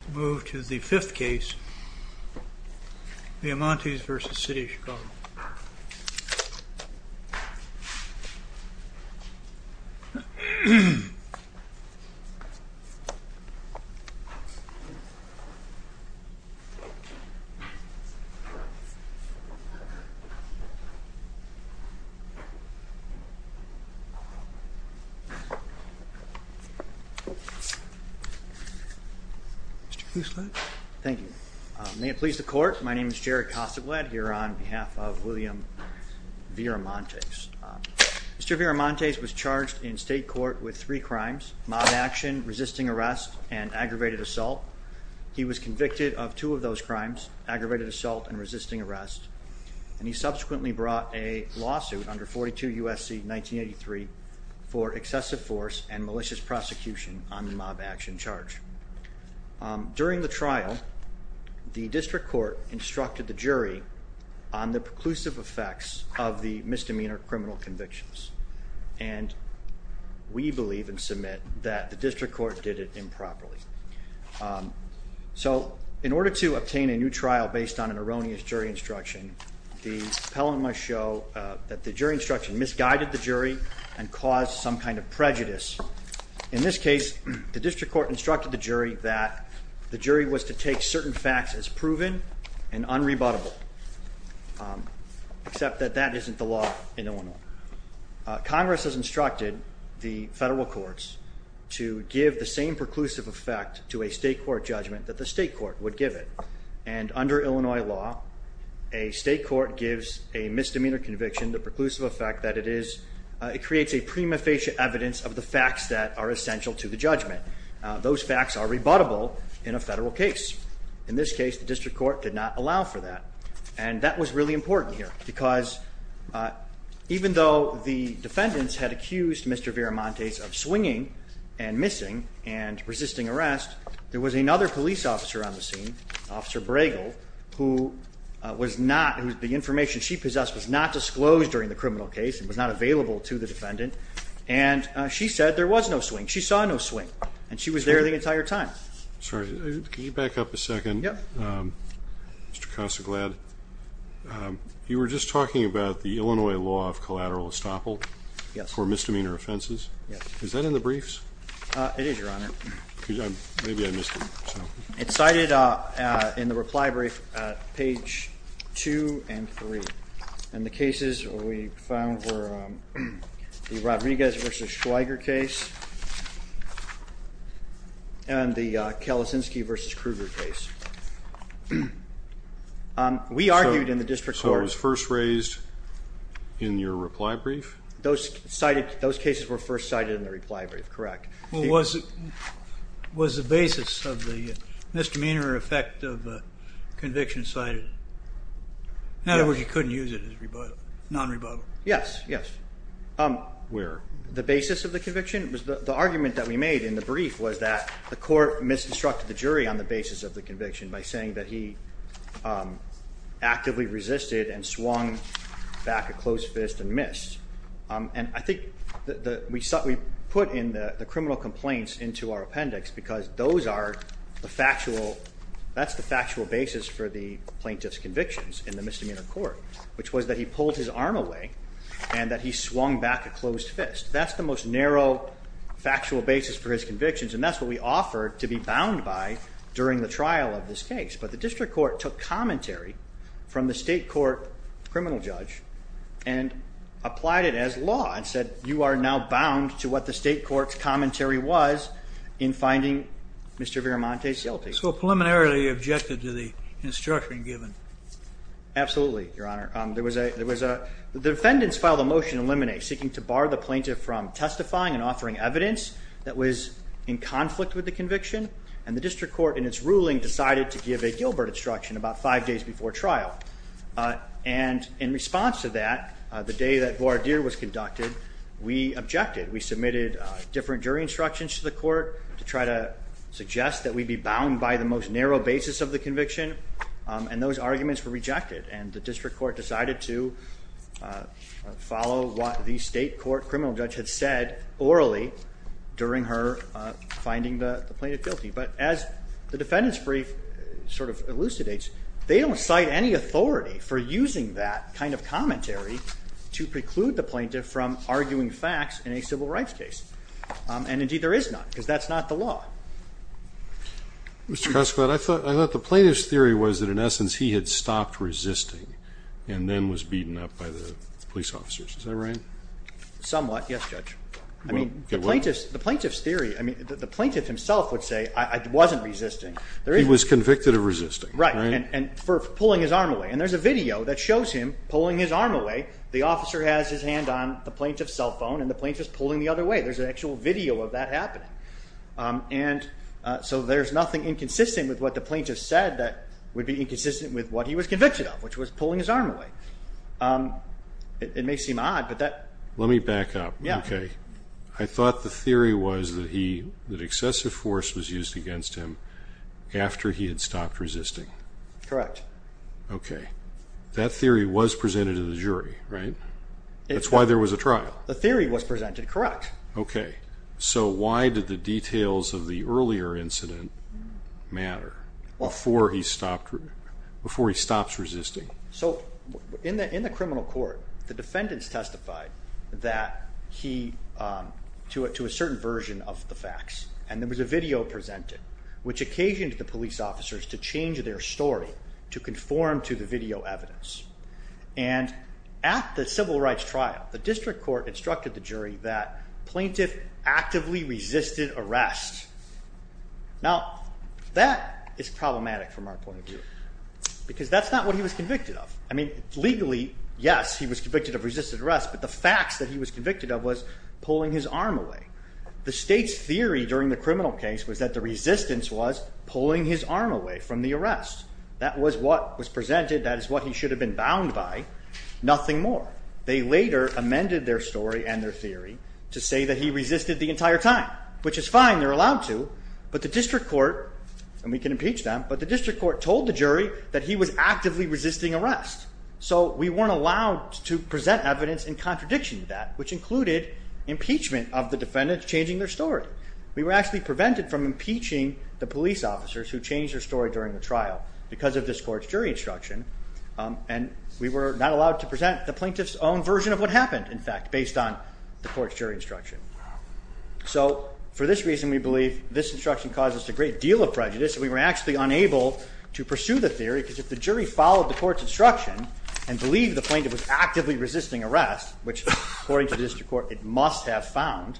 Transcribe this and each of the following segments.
Let's move to the fifth case, Viramontes v. City of Chicago. Thank you. May it please the court, my name is Jerry Cossagled here on behalf of William Viramontes. Mr. Viramontes was charged in state court with three crimes, mob action, resisting arrest, and aggravated assault. He was convicted of two of those crimes, aggravated assault and resisting arrest, and he subsequently brought a lawsuit under 42 U.S.C. 1983 for excessive force and malicious prosecution on the mob action charge. During the trial, the district court instructed the jury on the preclusive effects of the misdemeanor criminal convictions, and we believe and submit that the district court did it improperly. So in order to obtain a new trial based on an erroneous jury instruction, the appellant must show that the jury instruction misguided the jury and caused some kind of prejudice. In this case, the district court instructed the jury that the jury was to take certain facts as proven and unrebuttable, except that that isn't the law in Illinois. Congress has instructed the federal courts to give the same preclusive effect to a state court judgment that the state court would give it, and under Illinois law, a state court gives a misdemeanor conviction the preclusive effect that it is, it creates a prima facie evidence of the facts that are essential to the judgment. Those facts are rebuttable in a federal case. In this case, the district court did not allow for that, and that was really important here, because even though the defendants had accused Mr. Viramontes of swinging and missing and resisting arrest, there was another police officer on the scene, Officer Bregel, who was not, the information she possessed was not disclosed during the criminal case and was not available to the defendant, and she said there was no swing. She saw no swing, and she was there the entire time. Sorry, can you back up a second? Yep. Mr. Casaglad, you were just talking about the Illinois law of collateral estoppel for misdemeanor offenses. Yes. Is that in the briefs? It is, Your Honor. Maybe I missed it. It's cited in the reply brief at page 2 and 3, and the cases we found were the Rodriguez v. Schweiger case and the Kalasinski v. Kruger case. We argued in the district court. So it was first raised in your reply brief? Those cases were first cited in the reply brief, correct. Well, was the basis of the misdemeanor effect of the conviction cited? In other words, you couldn't use it as non-rebuttal? Yes, yes. Where? The basis of the conviction. The argument that we made in the brief was that the court misconstructed the jury on the basis of the conviction by saying that he actively resisted and swung back a closed fist and missed. And I think we put in the criminal complaints into our appendix because that's the factual basis for the plaintiff's convictions in the misdemeanor court, which was that he pulled his arm away and that he swung back a closed fist. That's the most narrow factual basis for his convictions, and that's what we offered to be bound by during the trial of this case. But the district court took commentary from the state court criminal judge and applied it as law and said you are now bound to what the state court's commentary was in finding Mr. Viramonte's guilty. So preliminarily you objected to the instruction given? Absolutely, Your Honor. The defendants filed a motion to eliminate, seeking to bar the plaintiff from testifying and offering evidence that was in conflict with the conviction, and the district court in its ruling decided to give a Gilbert instruction about five days before trial. And in response to that, the day that voir dire was conducted, we objected. We submitted different jury instructions to the court to try to suggest that we be bound by the most narrow basis of the conviction, and those arguments were rejected, and the district court decided to follow what the state court criminal judge had said orally during her finding the plaintiff guilty. But as the defendant's brief sort of elucidates, they don't cite any authority for using that kind of commentary to preclude the plaintiff from arguing facts in a civil rights case. And, indeed, there is not, because that's not the law. Mr. Koskowitz, I thought the plaintiff's theory was that, in essence, he had stopped resisting and then was beaten up by the police officers. Is that right? Somewhat, yes, Judge. I mean, the plaintiff's theory, I mean, the plaintiff himself would say, I wasn't resisting. He was convicted of resisting. Right, and for pulling his arm away. And there's a video that shows him pulling his arm away. The officer has his hand on the plaintiff's cell phone, and the plaintiff's pulling the other way. There's an actual video of that happening. And so there's nothing inconsistent with what the plaintiff said that would be inconsistent with what he was convicted of, which was pulling his arm away. It may seem odd, but that… Let me back up. Okay. I thought the theory was that excessive force was used against him after he had stopped resisting. Correct. Okay. That theory was presented to the jury, right? That's why there was a trial. The theory was presented, correct. Okay. So why did the details of the earlier incident matter before he stops resisting? So in the criminal court, the defendants testified that he…to a certain version of the facts. And there was a video presented, which occasioned the police officers to change their story to conform to the video evidence. And at the civil rights trial, the district court instructed the jury that plaintiff actively resisted arrest. Now, that is problematic from our point of view because that's not what he was convicted of. I mean, legally, yes, he was convicted of resisted arrest, but the facts that he was convicted of was pulling his arm away. The state's theory during the criminal case was that the resistance was pulling his arm away from the arrest. That was what was presented. That is what he should have been bound by. Nothing more. They later amended their story and their theory to say that he resisted the entire time, which is fine. They're allowed to. But the district court, and we can impeach them, but the district court told the jury that he was actively resisting arrest. So we weren't allowed to present evidence in contradiction to that, which included impeachment of the defendants changing their story. We were actually prevented from impeaching the police officers who changed their story during the trial because of this court's jury instruction. And we were not allowed to present the plaintiff's own version of what happened, in fact, based on the court's jury instruction. So for this reason, we believe this instruction causes a great deal of prejudice. We were actually unable to pursue the theory because if the jury followed the court's instruction and believed the plaintiff was actively resisting arrest, which, according to the district court, it must have found,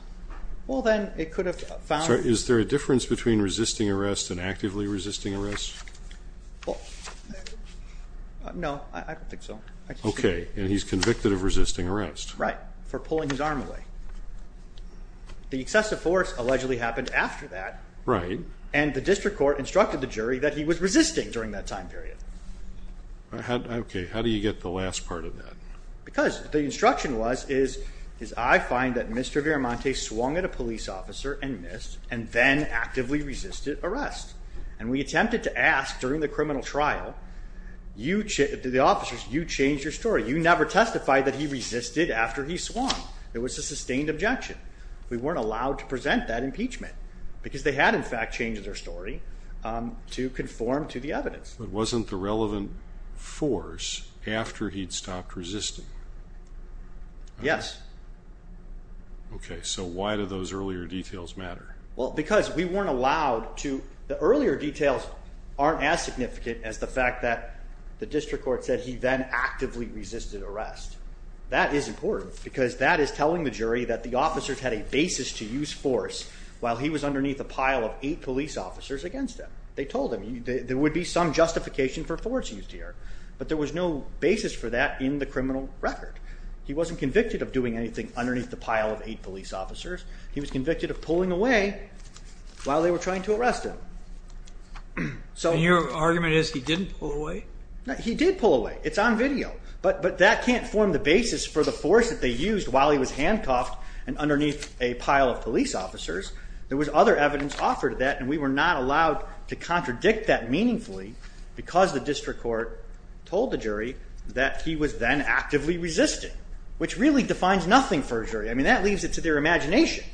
well, then it could have found. Is there a difference between resisting arrest and actively resisting arrest? Well, no, I don't think so. Okay, and he's convicted of resisting arrest. Right, for pulling his arm away. The excessive force allegedly happened after that. Right. And the district court instructed the jury that he was resisting during that time period. Okay, how do you get the last part of that? Because the instruction was, I find that Mr. Viramonte swung at a police officer and missed and then actively resisted arrest. And we attempted to ask during the criminal trial, to the officers, you changed your story. You never testified that he resisted after he swung. It was a sustained objection. We weren't allowed to present that impeachment because they had, in fact, changed their story to conform to the evidence. But wasn't the relevant force after he'd stopped resisting? Yes. Okay, so why do those earlier details matter? Well, because we weren't allowed to. The earlier details aren't as significant as the fact that the district court said he then actively resisted arrest. That is important because that is telling the jury that the officers had a basis to use force while he was underneath a pile of eight police officers against him. They told him there would be some justification for force used here. But there was no basis for that in the criminal record. He wasn't convicted of doing anything underneath the pile of eight police officers. He was convicted of pulling away while they were trying to arrest him. And your argument is he didn't pull away? No, he did pull away. It's on video. But that can't form the basis for the force that they used while he was handcuffed and underneath a pile of police officers. There was other evidence offered to that, and we were not allowed to contradict that meaningfully because the district court told the jury that he was then actively resisting, which really defines nothing for a jury. I mean, that leaves it to their imagination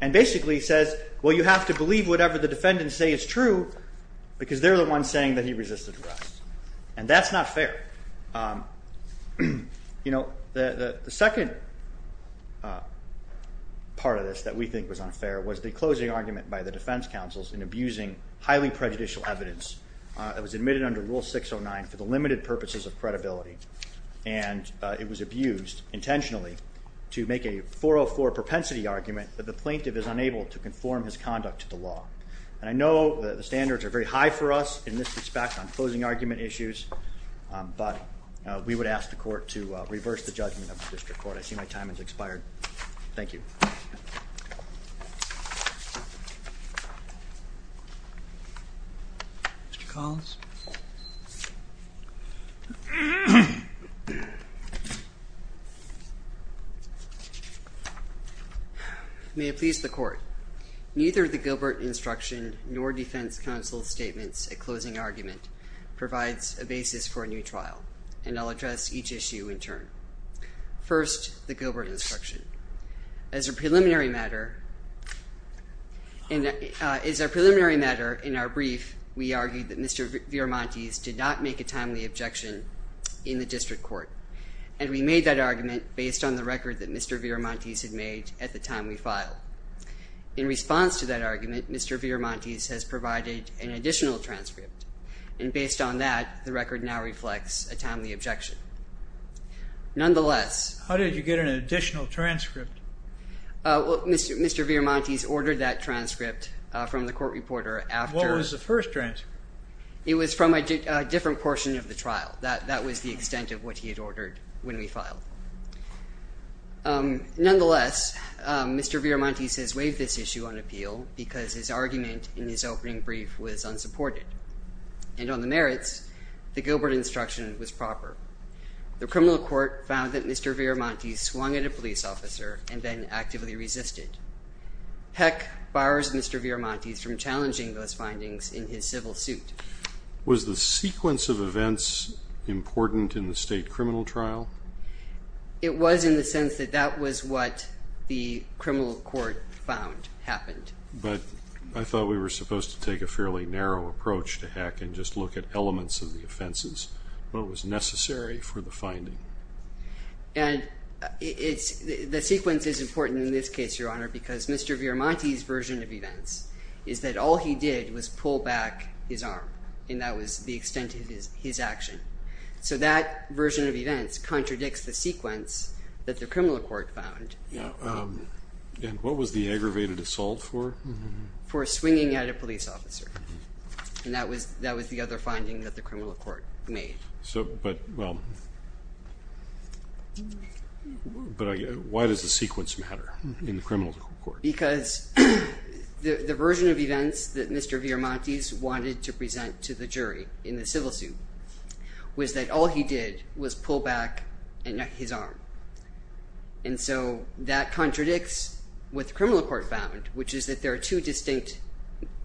and basically says, well, you have to believe whatever the defendants say is true because they're the ones saying that he resisted arrest. And that's not fair. The second part of this that we think was unfair was the closing argument by the defense counsels in abusing highly prejudicial evidence that was admitted under Rule 609 for the limited purposes of credibility. And it was abused intentionally to make a 404 propensity argument that the plaintiff is unable to conform his conduct to the law. And I know the standards are very high for us in this respect on closing argument issues, but we would ask the court to reverse the judgment of the district court. I see my time has expired. Thank you. Mr. Collins? May it please the court. Neither the Gilbert instruction nor defense counsel's statements at closing argument provides a basis for a new trial, and I'll address each issue in turn. First, the Gilbert instruction. As a preliminary matter in our brief, we argued that Mr. Viramontes did not make a timely objection in the district court. And we made that argument based on the record that Mr. Viramontes had made at the time we filed. In response to that argument, Mr. Viramontes has provided an additional transcript. And based on that, the record now reflects a timely objection. Nonetheless... How did you get an additional transcript? Mr. Viramontes ordered that transcript from the court reporter after... What was the first transcript? It was from a different portion of the trial. That was the extent of what he had ordered when we filed. Nonetheless, Mr. Viramontes has waived this issue on appeal because his argument in his opening brief was unsupported. And on the merits, the Gilbert instruction was proper. The criminal court found that Mr. Viramontes swung at a police officer and then actively resisted. Heck, bars Mr. Viramontes from challenging those findings in his civil suit. Was the sequence of events important in the state criminal trial? It was in the sense that that was what the criminal court found happened. But I thought we were supposed to take a fairly narrow approach to heck and just look at elements of the offenses. What was necessary for the finding? And the sequence is important in this case, Your Honor, because Mr. Viramontes' version of events is that all he did was pull back his arm. And that was the extent of his action. So that version of events contradicts the sequence that the criminal court found. And what was the aggravated assault for? For swinging at a police officer. And that was the other finding that the criminal court made. But why does the sequence matter in the criminal court? Because the version of events that Mr. Viramontes wanted to present to the jury in the civil suit was that all he did was pull back his arm. And so that contradicts what the criminal court found, which is that there are two distinct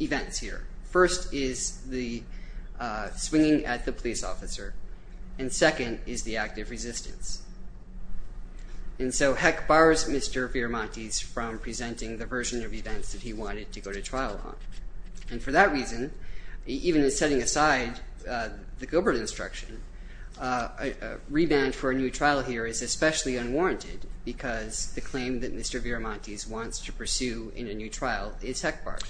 events here. First is the swinging at the police officer. And second is the act of resistance. And so heck bars Mr. Viramontes from presenting the version of events that he wanted to go to trial on. And for that reason, even setting aside the Gilbert instruction, a reband for a new trial here is especially unwarranted because the claim that Mr. Viramontes wants to pursue in a new trial is heck bars.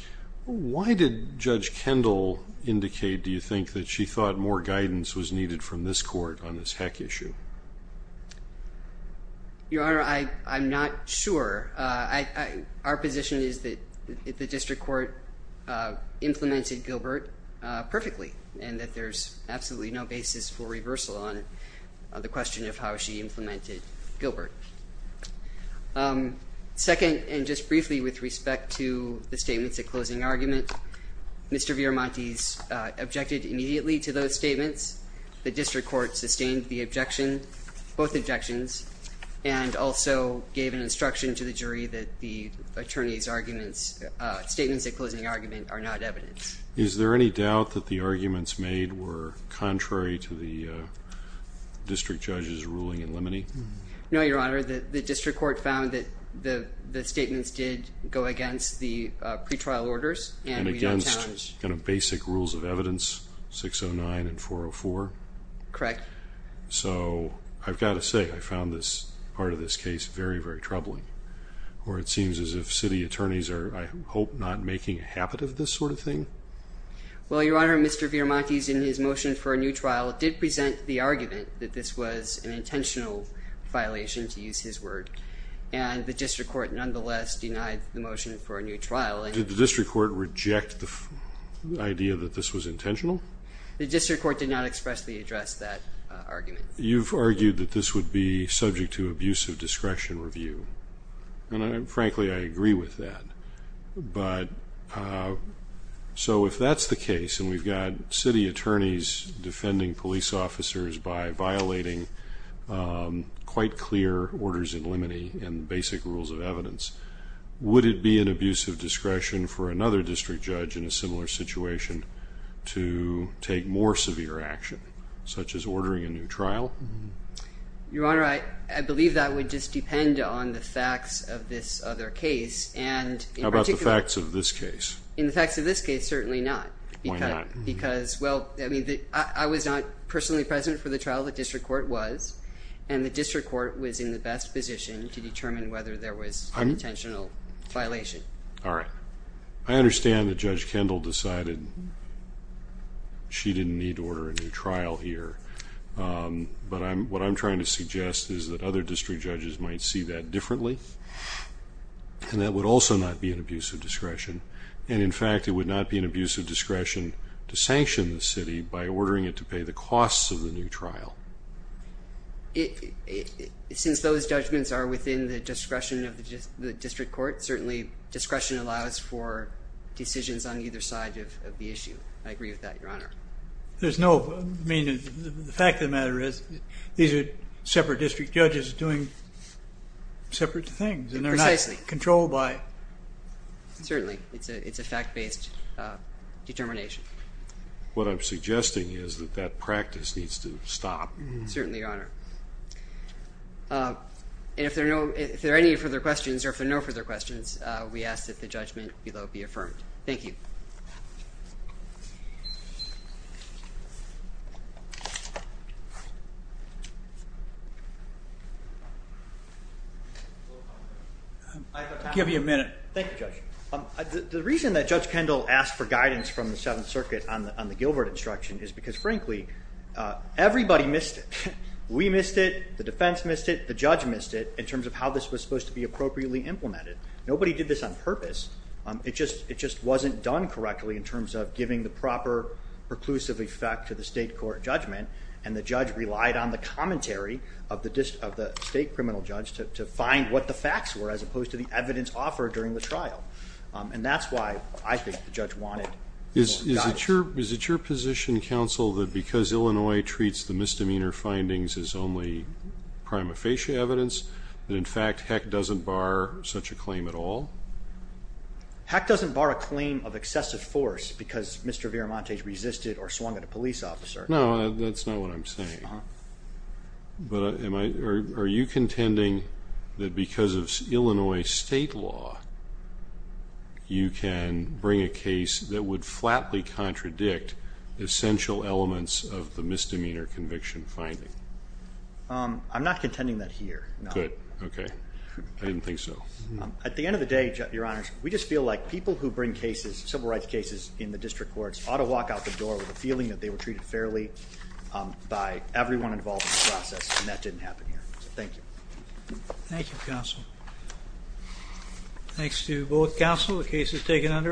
Why did Judge Kendall indicate, do you think, that she thought more guidance was needed from this court on this heck issue? Your Honor, I'm not sure. Our position is that the district court implemented Gilbert perfectly and that there's absolutely no basis for reversal on the question of how she implemented Gilbert. Second, and just briefly with respect to the statements at closing argument, Mr. Viramontes objected immediately to those statements. The district court sustained the objection, both objections, and also gave an instruction to the jury that the attorney's statements at closing argument are not evidence. Is there any doubt that the arguments made were contrary to the district judge's ruling in limine? No, Your Honor. The district court found that the statements did go against the pretrial orders. And against basic rules of evidence, 609 and 404? Correct. So, I've got to say, I found this part of this case very, very troubling. Or it seems as if city attorneys are, I hope, not making a habit of this sort of thing? Well, Your Honor, Mr. Viramontes, in his motion for a new trial, did present the argument that this was an intentional violation, to use his word. And the district court, nonetheless, denied the motion for a new trial. Did the district court reject the idea that this was intentional? The district court did not expressly address that argument. You've argued that this would be subject to abusive discretion review. And, frankly, I agree with that. But, so if that's the case, and we've got city attorneys defending police officers by violating quite clear orders in limine and basic rules of evidence, would it be an abusive discretion for another district judge in a similar situation to take more severe action, such as ordering a new trial? Your Honor, I believe that would just depend on the facts of this other case. How about the facts of this case? In the facts of this case, certainly not. Why not? Because, well, I was not personally present for the trial. The district court was. And the district court was in the best position to determine whether there was intentional violation. All right. I understand that Judge Kendall decided she didn't need to order a new trial here. But what I'm trying to suggest is that other district judges might see that differently. And that would also not be an abusive discretion. And, in fact, it would not be an abusive discretion to sanction the city by ordering it to pay the costs of the new trial. Since those judgments are within the discretion of the district court, certainly discretion allows for decisions on either side of the issue. I agree with that, Your Honor. There's no ---- I mean, the fact of the matter is these are separate district judges doing separate things. Precisely. And they're not controlled by ---- Certainly. It's a fact-based determination. What I'm suggesting is that that practice needs to stop. Certainly, Your Honor. And if there are any further questions or if there are no further questions, we ask that the judgment below be affirmed. Thank you. I have a question. I'll give you a minute. Thank you, Judge. The reason that Judge Kendall asked for guidance from the Seventh Circuit on the Gilbert instruction is because, frankly, everybody missed it. We missed it. The defense missed it. The judge missed it in terms of how this was supposed to be appropriately implemented. Nobody did this on purpose. It just wasn't done correctly in terms of giving the proper preclusive effect to the state court judgment. And the judge relied on the commentary of the state criminal judge to find what the facts were as opposed to the evidence offered during the trial. And that's why I think the judge wanted more guidance. Is it your position, counsel, that because Illinois treats the misdemeanor findings as only prima facie evidence, that, in fact, Heck doesn't bar such a claim at all? Heck doesn't bar a claim of excessive force because Mr. Viramontes resisted or swung at a police officer. No, that's not what I'm saying. But are you contending that because of Illinois state law, you can bring a case that would flatly contradict essential elements of the misdemeanor conviction finding? I'm not contending that here, no. Good. Okay. I didn't think so. At the end of the day, your honors, we just feel like people who bring cases, civil rights cases, in the district courts ought to walk out the door with a feeling that they were treated fairly by everyone involved in the process. And that didn't happen here. Thank you. Thank you, counsel. Thanks to both counsel. The case is taken under.